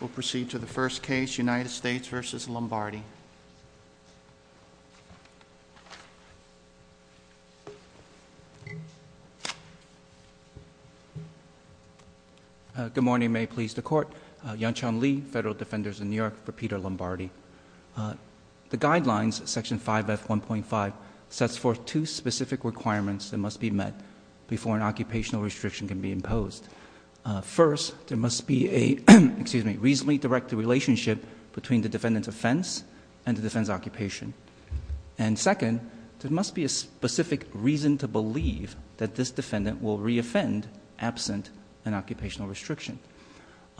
We'll proceed to the first case United States v. Lombardi. Good morning. May it please the Court. Yang-Chan Lee, Federal Defenders of New York, for Peter Lombardi. The Guidelines, Section 5F1.5, sets forth two specific requirements that must be met before an occupational restriction can be imposed. First, there must be a reasonably directed relationship between the defendant's offense and the defendant's occupation. And second, there must be a specific reason to believe that this defendant will reoffend absent an occupational restriction.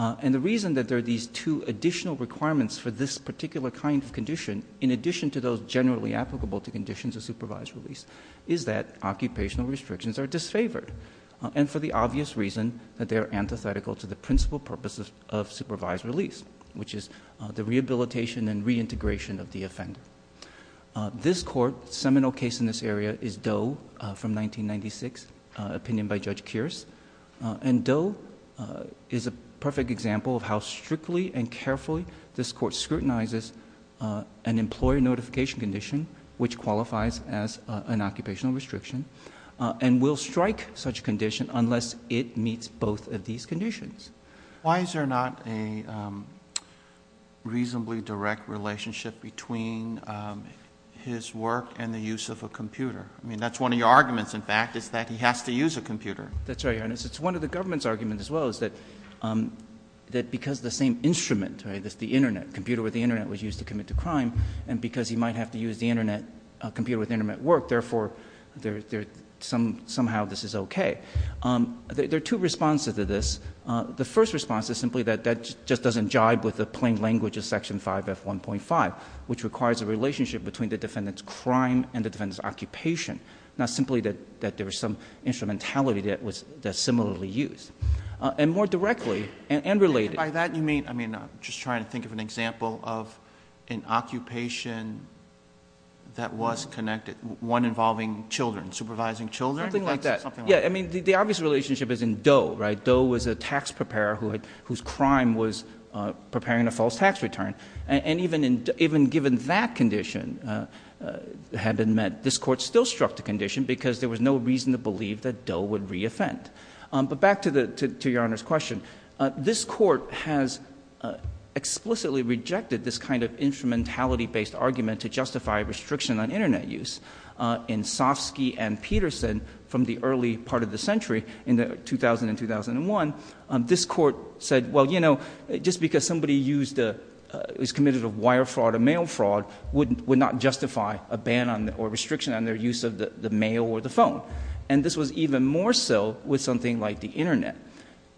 And the reason that there are these two additional requirements for this particular kind of condition, in addition to those generally applicable to conditions of supervised release, is that occupational restrictions are disfavored. And for the obvious reason that they are antithetical to the principal purposes of supervised release, which is the rehabilitation and reintegration of the offender. This Court's seminal case in this area is Doe v. 1996, opinion by Judge Kearse. And Doe is a perfect example of how strictly and carefully this Court scrutinizes an employer notification condition, which qualifies as an occupational restriction, and will strike such a condition unless it meets both of these conditions. Why is there not a reasonably direct relationship between his work and the use of a computer? I mean, that's one of your arguments, in fact, is that he has to use a computer. That's right, Your Honor. It's one of the government's arguments, as well, is that because the same instrument, the internet, a computer with the internet was used to commit the crime, and because he might have to use the internet, a computer with internet work, therefore, somehow this is okay. There are two responses to this. The first response is simply that that just doesn't jibe with the plain language of Section 5F1.5, which requires a relationship between the defendant's crime and the defendant's occupation, not simply that there was some instrumentality that was similarly used. And more directly, and related. And by that, you mean, I mean, I'm just trying to think of an example of an occupation that was connected, one involving children, supervising children? Something like that. Yeah, I mean, the obvious relationship is in Doe, right? Doe was a tax preparer whose crime was preparing a false tax return. And even given that condition had been met, this Court still struck the condition because there was no reason to believe that Doe would re-offend. But back to Your Honor's question. This Court has explicitly rejected this kind of instrumentality-based argument to justify restriction on internet use. In Sofsky and Peterson, from the early part of the century, in 2000 and 2001, this Court said, well, you know, just because somebody used a, is committed of wire fraud or mail fraud would not justify a ban or restriction on their use of the mail or the phone. And this was even more so with something like the internet.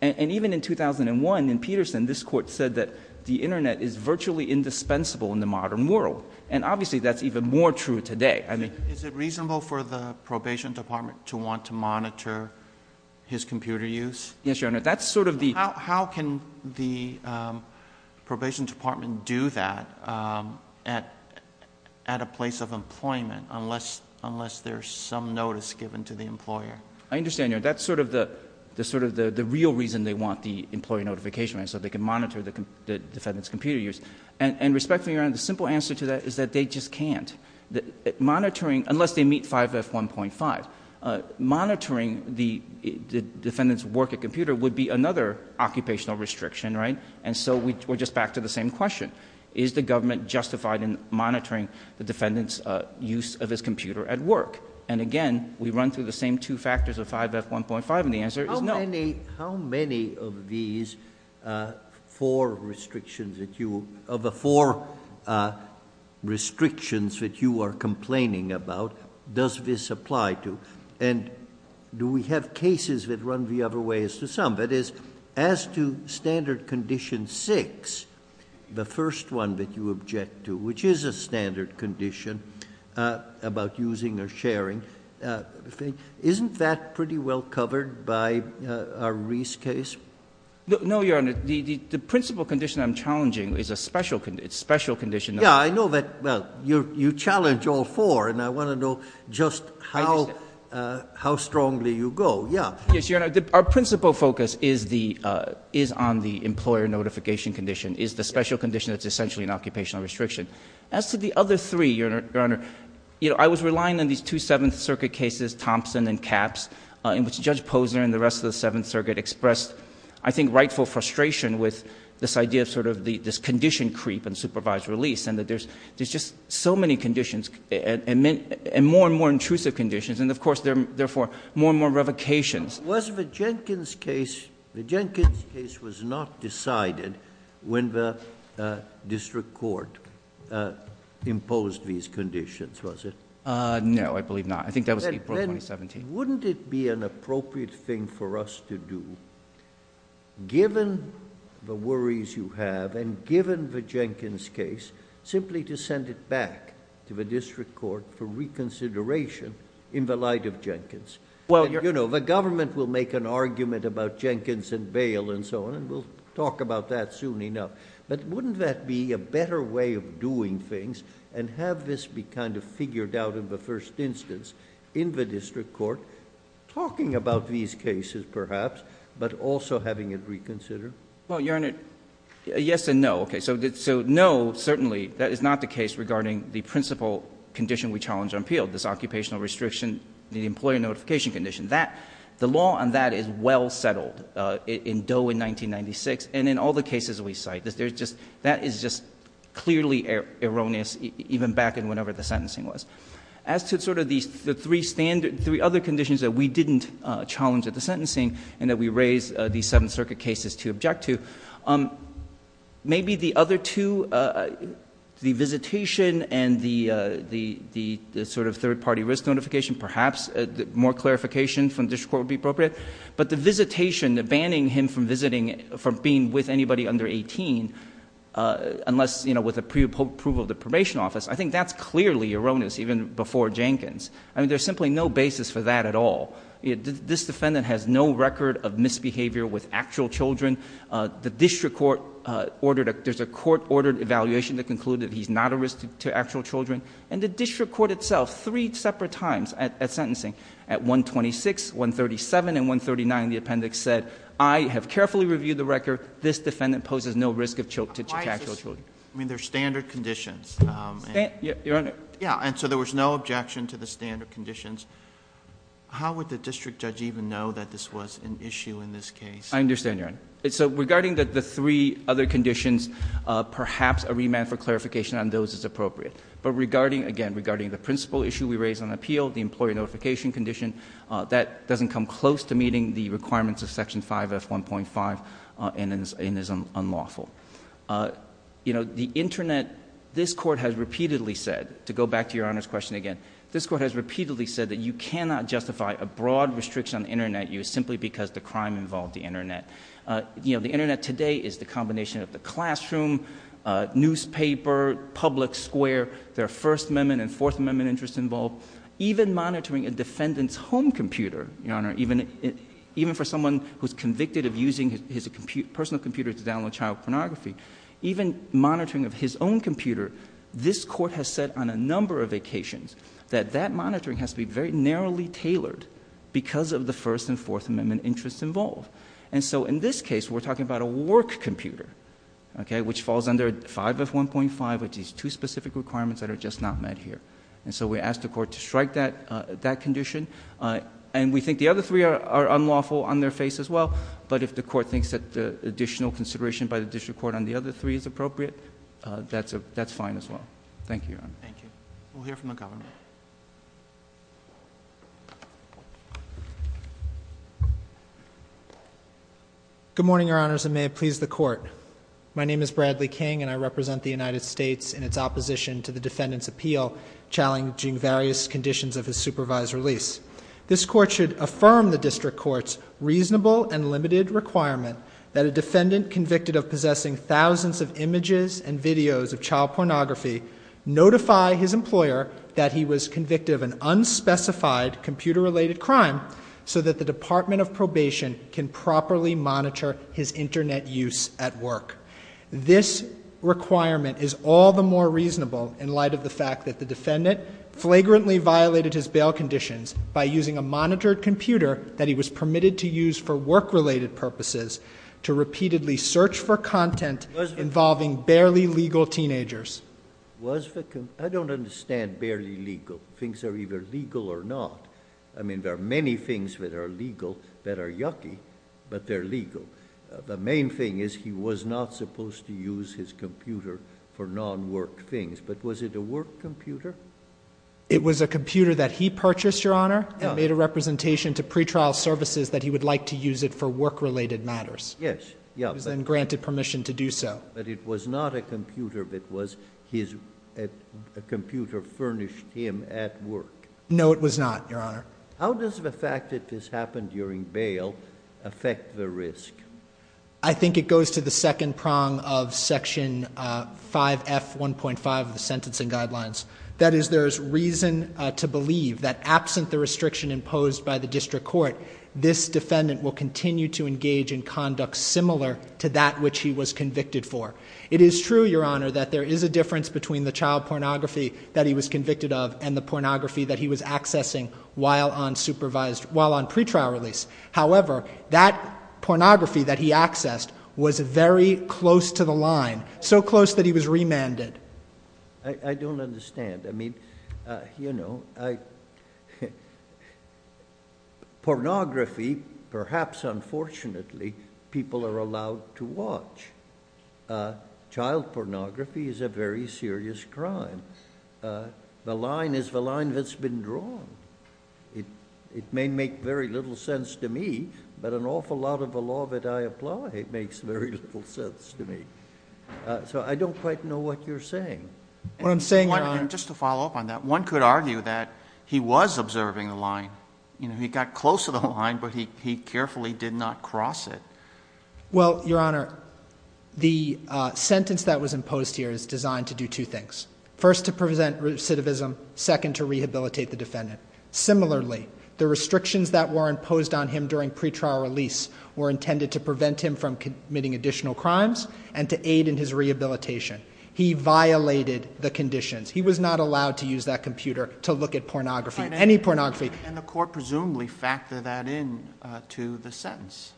And even in 2001, in Peterson, this Court said that the internet is virtually indispensable in the modern world. And obviously, that's even more true today. I mean- Is it reasonable for the probation department to want to monitor his computer use? Yes, Your Honor. That's sort of the- How can the probation department do that at a place of employment, unless there's some notice given to the employer? I understand, Your Honor. That's sort of the real reason they want the employee notification, right? So they can monitor the defendant's computer use. And respectfully, Your Honor, the simple answer to that is that they just can't. Monitoring, unless they meet 5F1.5, monitoring the defendant's work at computer would be another occupational restriction, right? And so we're just back to the same question. Is the government justified in monitoring the defendant's use of his computer at work? And again, we run through the same two factors of 5F1.5, and the answer is no. How many of these four restrictions that you- of the four restrictions that you are complaining about does this apply to? And do we have cases that run the other way as to some? That is, as to Standard Condition 6, the first one that you object to, which is a standard condition about using or sharing, isn't that pretty well covered by a Reese case? No, Your Honor. The principal condition I'm challenging is a special condition- Yeah, I know that- well, you challenge all four, and I want to know just how strongly you go. Yeah. Yes, Your Honor. Our principal focus is on the employer notification condition, is the special condition that's essentially an occupational restriction. As to the other three, Your Honor, I was relying on these two Seventh Circuit cases, Thompson and Capps, in which Judge Posner and the rest of the Seventh Circuit expressed, I think, rightful frustration with this idea of sort of this condition creep and supervised release, and that there's just so many conditions, and more and more intrusive conditions, and of course, therefore, more and more revocations. Was the Jenkins case... the Jenkins case was not decided when the district court imposed these conditions, was it? No, I believe not. I think that was April of 2017. Wouldn't it be an appropriate thing for us to do, given the worries you have, and given the Jenkins case, simply to send it back to the district court for reconsideration in the light of Jenkins? Well, Your Honor... You know, the government will make an argument about Jenkins and bail and so on, and we'll talk about that soon enough, but wouldn't that be a better way of doing things, and have this be kind of figured out in the first instance in the district court, talking about these cases, perhaps, but also having it reconsidered? Well, Your Honor, yes and no. Okay, so no, certainly, that is not the case regarding the principal condition we challenge or appeal, this occupational restriction, the employer notification condition. The law on that is well settled, in Doe in 1996, and in all the cases we cite. That is just clearly erroneous, even back in whenever the sentencing was. As to sort of the three other conditions that we didn't challenge at the sentencing, and that we raise the Seventh Circuit cases to object to, maybe the other two, the visitation and the sort of third-party risk notification, perhaps more clarification from the district court would be appropriate, but the visitation, the banning him from visiting, from being with anybody under 18, unless, you know, with the preapproval of the probation office, I think that's clearly erroneous, even before Jenkins. I mean, there's simply no basis for that at all. This defendant has no record of misbehavior with actual children. The district court ordered a... there's a court-ordered evaluation that concluded that he's not a risk to actual children, and the district court itself, three separate times at sentencing, at 126, 137, and 139, the appendix said, I have carefully reviewed the record. This defendant poses no risk to actual children. Why is this... I mean, they're standard conditions. Your Honor. Yeah, and so there was no objection to the standard conditions. How would the district judge even know that this was an issue in this case? I understand, Your Honor. So regarding the three other conditions, perhaps a remand for clarification on those is appropriate. But regarding, again, regarding the principal issue we raised on appeal, the employee notification condition, that doesn't come close to meeting the requirements of Section 5F1.5 and is unlawful. You know, the Internet... this Court has repeatedly said, to go back to Your Honor's question again, this Court has repeatedly said that you cannot justify a broad restriction on Internet use simply because the crime involved the Internet. You know, the Internet today is the combination of the classroom, newspaper, public square, there are First Amendment and Fourth Amendment interests involved. Even monitoring a defendant's home computer, Your Honor, even for someone who's convicted of using his personal computer to download child pornography, even monitoring of his own computer, this Court has said on a number of occasions that that monitoring has to be very narrowly tailored because of the First and Fourth Amendment interests involved. And so in this case, we're talking about a work computer, okay, which falls under 5F1.5, which is two specific requirements that are just not met here. And so we ask the Court to strike that condition. And we think the other three are unlawful on their face as well, but if the Court thinks that the additional consideration by the District Court on the other three is appropriate, that's fine as well. Thank you, Your Honor. Thank you. We'll hear from the Governor. Good morning, Your Honors, and may it please the Court. My name is Bradley King, and I represent the United States in its opposition to the defendant's appeal challenging various conditions of his supervised release. This Court should affirm the District Court's reasonable and limited requirement that a defendant convicted of possessing thousands of images and videos of child pornography notify his employer that he was convicted of an unspecified computer-related crime so that the Department of Probation can properly monitor his Internet use at work. This requirement is all the more reasonable in light of the fact that the defendant flagrantly violated his bail conditions by using a monitored computer that he was permitted to use for work. I don't understand barely legal. Things are either legal or not. I mean, there are many things that are legal that are yucky, but they're legal. The main thing is he was not supposed to use his computer for non-work things, but was it a work computer? It was a computer that he purchased, Your Honor, that made a representation to pretrial services that he would like to use it for work-related matters. Yes. It was then granted permission to do so. But it was not a computer that was his... a computer furnished him at work. No, it was not, Your Honor. How does the fact that this happened during bail affect the risk? I think it goes to the second prong of Section 5F1.5 of the Sentencing Guidelines. That is, there is reason to believe that absent the restriction imposed by the District Court, this defendant will continue to engage in conduct similar to that which he was convicted for. It is true, Your Honor, that there is a difference between the child pornography that he was convicted of and the pornography that he was accessing while on supervised... while on pretrial release. However, that pornography that he accessed was very close to the line, so close that he was remanded. I don't understand. I mean, you know... pornography, perhaps unfortunately, people are allowed to watch. Child pornography is a very serious crime. The line is the line that's been drawn. It may make very little sense to me, but an awful lot of the law that I apply makes very little sense to me. So I don't quite know what you're saying. What I'm saying, Your Honor... And just to follow up on that, one could argue that he was observing the line. He got close to the line, but he carefully did not cross it. Well, Your Honor, the sentence that was imposed here is designed to do two things. First to prevent recidivism, second to rehabilitate the defendant. Similarly, the restrictions that were imposed on him during pretrial release were intended to prevent him from committing additional crimes and to aid in his rehabilitation. He violated the conditions. He was not allowed to use that computer to look at pornography, any pornography. And the court presumably factored that into the sentence.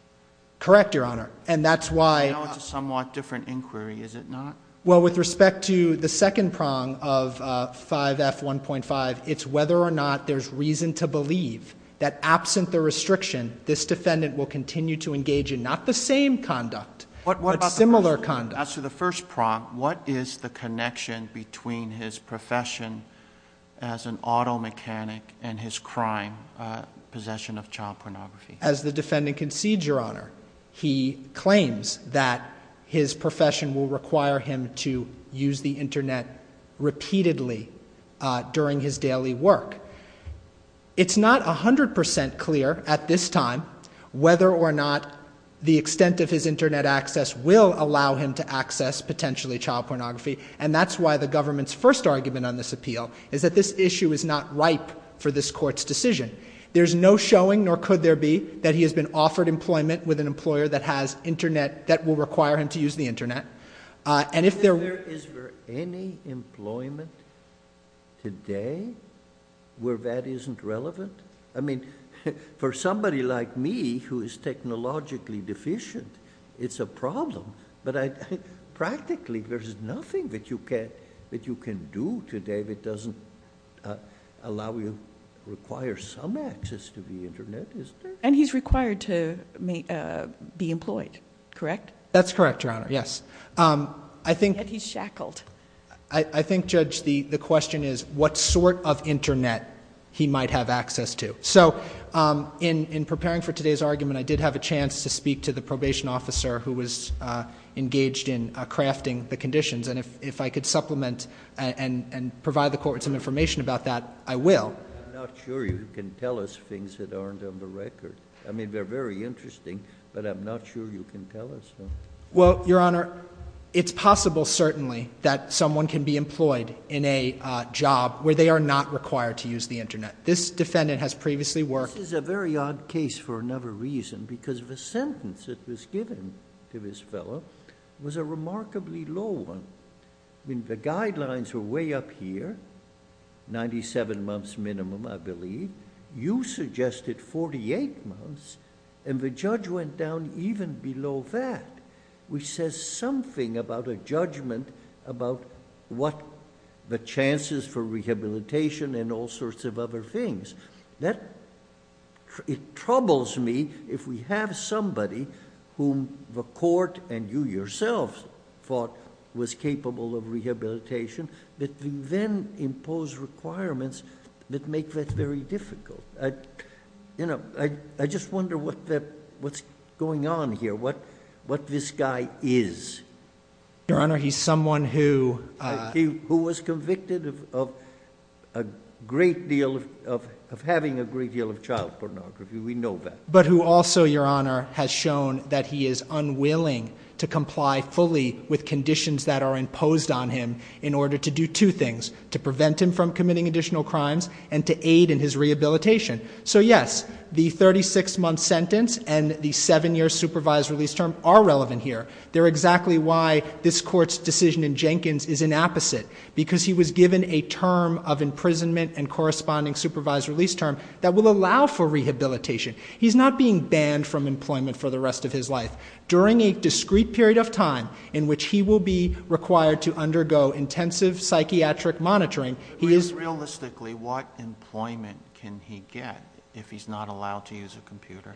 Correct, Your Honor. And that's why... Now it's a somewhat different inquiry, is it not? Well, with respect to the second prong of 5F1.5, it's whether or not there's reason to believe that absent the restriction, this defendant will continue to engage in not the same conduct, but similar conduct. As to the first prong, what is the connection between his profession as an auto mechanic and his crime, possession of child pornography? As the defendant concedes, Your Honor, he claims that his profession will require him to use the internet repeatedly during his daily work. It's not 100% clear at this time whether or not the extent of his internet access will allow him to access potentially child pornography. And that's why the government's first argument on this appeal is that this issue is not ripe for this court's decision. There's no showing, nor could there be, that he has been offered employment with an employer that has internet, that will require him to use the internet. And if there... Is there any employment today where that isn't relevant? I mean, for somebody like me who is technologically deficient, it's a problem, but practically there's nothing that you can do today that doesn't allow you... require some access to the internet, isn't there? And he's required to be employed, correct? That's correct, Your Honor, yes. I think... Yet he's shackled. I think, Judge, the question is what sort of internet he might have access to. So in preparing for today's argument, I did have a chance to speak to the probation officer who was engaged in crafting the conditions, and if I could supplement and provide the court with some information about that, I will. I'm not sure you can tell us things that aren't on the record. I mean, they're very interesting, but I'm not sure you can tell us them. Well, Your Honor, it's possible, certainly, that someone can be employed in a job where they are not required to use the internet. This defendant has previously worked... This is a very odd case for another reason, because the sentence that was given to this fellow was a remarkably low one. I mean, the guidelines were way up here, 97 months minimum, I believe. You suggested 48 months, and the judge went down even below that, which says something about a judgment about what the chances for rehabilitation and all sorts of other things. It troubles me if we have somebody whom the court and you yourself thought was capable of rehabilitation, that you then impose requirements that make that very difficult. I just wonder what's going on here, what this guy is. Your Honor, he's someone who... Who was convicted of having a great deal of child pornography. We know that. But who also, Your Honor, has shown that he is unwilling to comply fully with conditions that are imposed on him in order to do two things, to prevent him from committing additional crimes and to aid in his rehabilitation. So yes, the 36-month sentence and the seven-year supervised release term are relevant here. They're exactly why this court's decision in Jenkins is an opposite, because he was given a term of imprisonment and corresponding supervised release term that will allow for rehabilitation. He's not being banned from employment for the rest of his life. During a discrete period of time in which he will be required to undergo intensive psychiatric monitoring, he is... Realistically, what employment can he get if he's not allowed to use a computer?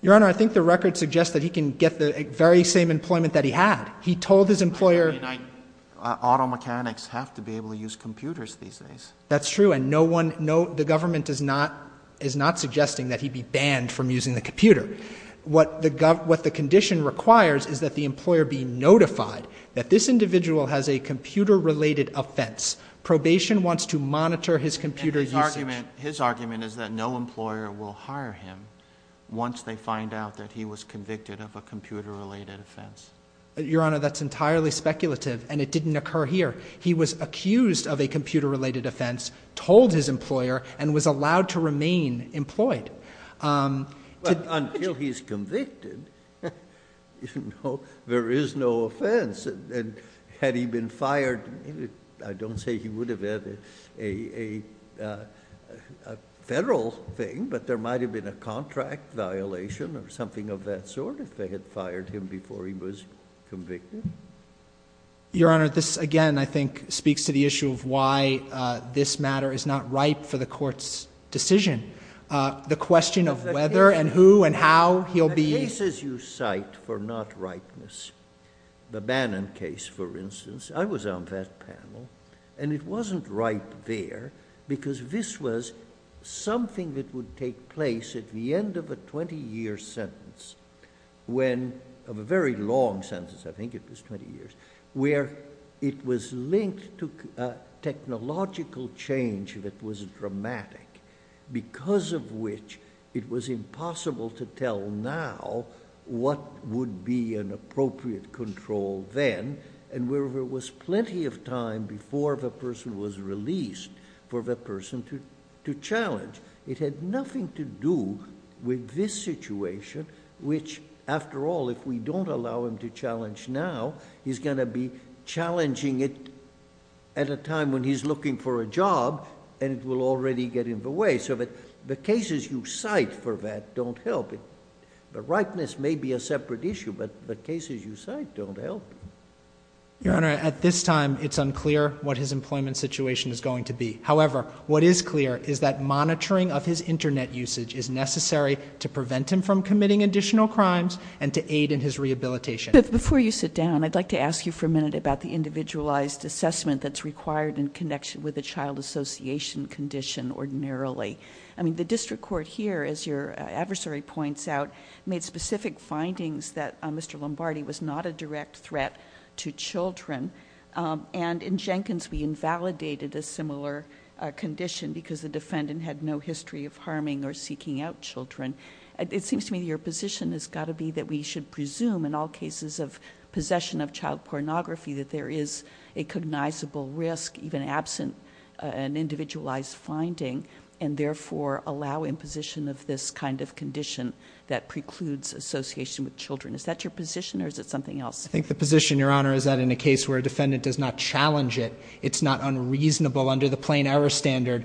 Your Honor, I think the record suggests that he can get the very same employment that he had. He told his employer... I mean, auto mechanics have to be able to use computers these days. That's true, and the government is not suggesting that he be banned from using the computer. What the condition requires is that the employer be notified that this individual has a computer-related offense. Probation wants to monitor his computer usage. His argument is that no employer will hire him once they find out that he was convicted of a computer-related offense. Your Honor, that's entirely speculative, and it didn't occur here. He was accused of a computer-related offense, told his employer, and was allowed to remain employed. But until he's convicted, you know, there is no offense, and had he been fired, I don't say he would have had a federal thing, but there might have been a contract violation or something of that sort if they had fired him before he was convicted. Your Honor, this, again, I think speaks to the issue of why this matter is not ripe for the Court's decision. The question of whether and who and how he'll be... The cases you cite for not ripeness, the Bannon case, for instance, I was on that panel, and it wasn't right there because this was something that would take place at the end of a twenty-year sentence when... of a very long sentence, I think it was twenty Because of which, it was impossible to tell now what would be an appropriate control then, and where there was plenty of time before the person was released for the person to challenge. It had nothing to do with this situation, which, after all, if we don't allow him to challenge now, he's going to be challenging it at a time when he's looking for a job, and it will already get in the way. So the cases you cite for that don't help. The ripeness may be a separate issue, but the cases you cite don't help. Your Honor, at this time, it's unclear what his employment situation is going to be. However, what is clear is that monitoring of his internet usage is necessary to prevent him from committing additional crimes and to aid in his rehabilitation. Before you sit down, I'd like to ask you for a minute about the individualized assessment that's required in connection with a child association condition ordinarily. The district court here, as your adversary points out, made specific findings that Mr. Lombardi was not a direct threat to children, and in Jenkins, we invalidated a similar condition because the defendant had no history of harming or seeking out children. It seems to me that your position has got to be that we should presume in all cases of possession of child pornography that there is a cognizable risk, even absent an individualized finding, and therefore allow imposition of this kind of condition that precludes association with children. Is that your position, or is it something else? I think the position, Your Honor, is that in a case where a defendant does not challenge it, it's not unreasonable under the plain error standard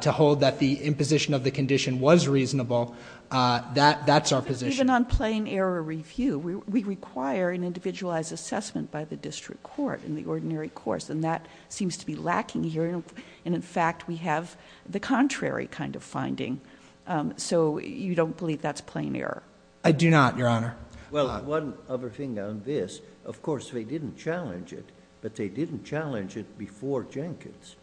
to hold that the imposition of the condition was reasonable. That's our position. Even on plain error review, we require an individualized assessment by the district court in the ordinary course, and that seems to be lacking here, and in fact, we have the contrary kind of finding. So you don't believe that's plain error? I do not, Your Honor. Well, one other thing on this. Of course, they didn't challenge it, but they didn't challenge it before Jenkins.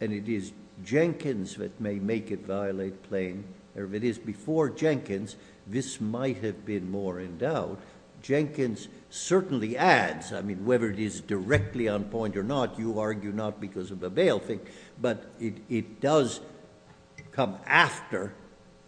And it is Jenkins that may make it violate plain. If it is before Jenkins, this might have been more in doubt. Jenkins certainly adds, I mean, whether it is directly on point or not, you argue not because of the bail thing. But it does come after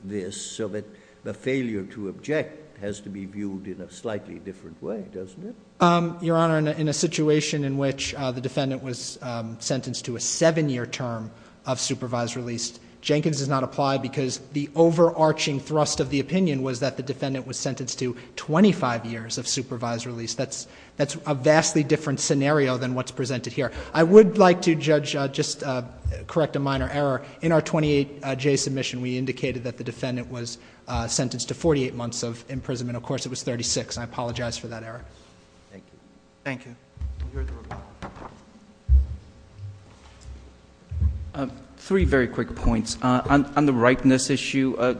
this, so that the failure to object has to be viewed in a slightly different way, doesn't it? Your Honor, in a situation in which the defendant was sentenced to a seven year term of supervised release. Jenkins does not apply because the overarching thrust of the opinion was that the defendant was sentenced to 25 years of supervised release. That's a vastly different scenario than what's presented here. I would like to, Judge, just correct a minor error. In our 28J submission, we indicated that the defendant was sentenced to 48 months of imprisonment. Of course, it was 36, and I apologize for that error. Thank you. Thank you. We'll hear the rebuttal. Three very quick points. On the ripeness issue,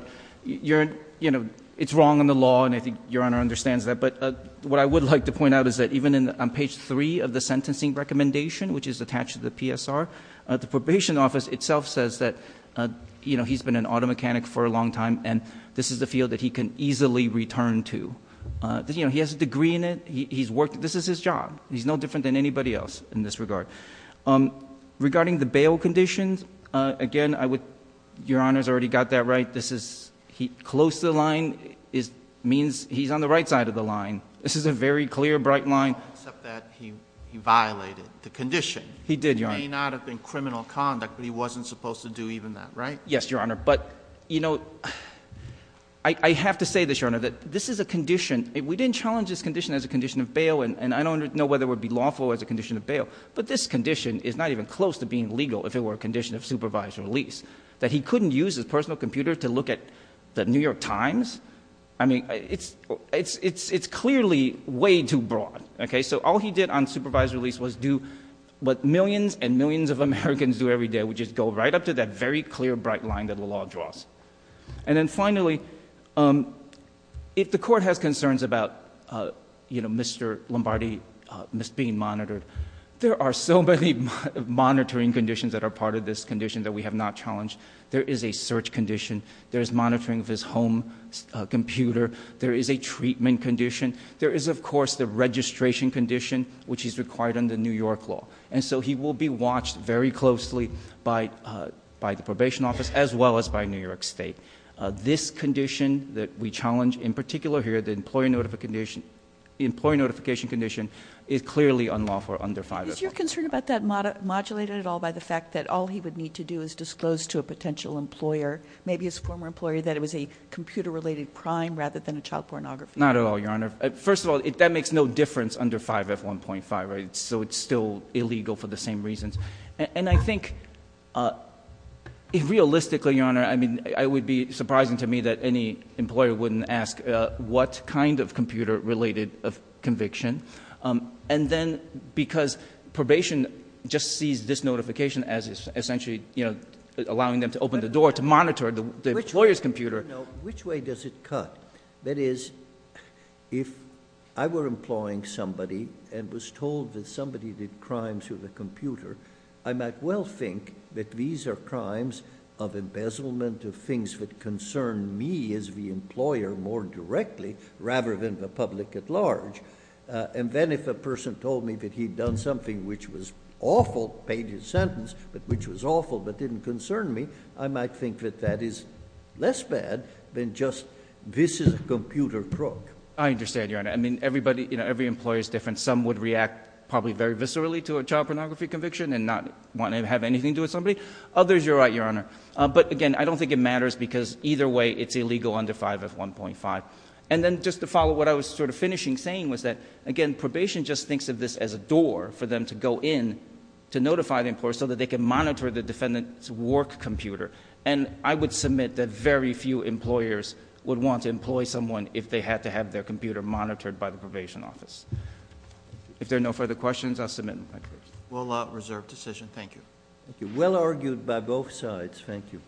it's wrong in the law, and I think Your Honor understands that. But what I would like to point out is that even on page three of the sentencing recommendation, which is attached to the PSR, the probation office itself says that he's been an auto mechanic for a long time. And this is the field that he can easily return to. He has a degree in it, this is his job. He's no different than anybody else in this regard. Regarding the bail conditions, again, Your Honor's already got that right. This is, close to the line means he's on the right side of the line. This is a very clear, bright line. Except that he violated the condition. He did, Your Honor. It may not have been criminal conduct, but he wasn't supposed to do even that, right? Yes, Your Honor, but I have to say this, Your Honor, that this is a condition. We didn't challenge this condition as a condition of bail, and I don't know whether it would be lawful as a condition of bail. But this condition is not even close to being legal if it were a condition of supervised release. That he couldn't use his personal computer to look at the New York Times? I mean, it's clearly way too broad, okay? So all he did on supervised release was do what millions and millions of Americans do every day, which is go right up to that very clear, bright line that the law draws. And then finally, if the court has concerns about Mr. Lombardi being monitored, there are so many monitoring conditions that are part of this condition that we have not challenged. There is a search condition. There is monitoring of his home computer. There is a treatment condition. There is, of course, the registration condition, which is required under New York law. And so he will be watched very closely by the probation office, as well as by New York State. This condition that we challenge, in particular here, the employee notification condition is clearly unlawful under 5F1. Is your concern about that modulated at all by the fact that all he would need to do is disclose to a potential employer, maybe his former employer, that it was a computer-related crime rather than a child pornography? Not at all, Your Honor. First of all, that makes no difference under 5F1.5, right? So it's still illegal for the same reasons. And I think, realistically, Your Honor, I mean, it would be surprising to me that any employer wouldn't ask what kind of computer-related conviction. And then, because probation just sees this notification as essentially allowing them to open the door to monitor the employer's computer. Which way does it cut? That is, if I were employing somebody and was told that somebody did crimes with a computer, I might well think that these are crimes of embezzlement of things that concern me as the employer more directly, rather than the public at large. And then if a person told me that he'd done something which was awful, paid his sentence, but which was awful but didn't concern me, I might think that that is less bad than just this is a computer crook. I understand, Your Honor. I mean, every employer's different. Some would react probably very viscerally to a child pornography conviction and not want to have anything to do with somebody. Others, you're right, Your Honor. But again, I don't think it matters because either way, it's illegal under 5F1.5. And then just to follow what I was sort of finishing saying was that, again, probation just thinks of this as a door for them to go in to notify the employer so that they can monitor the defendant's work computer. And I would submit that very few employers would want to employ someone if they had to have their computer monitored by the probation office. If there are no further questions, I'll submit them. Will not reserve decision. Thank you. Well argued by both sides. Thank you.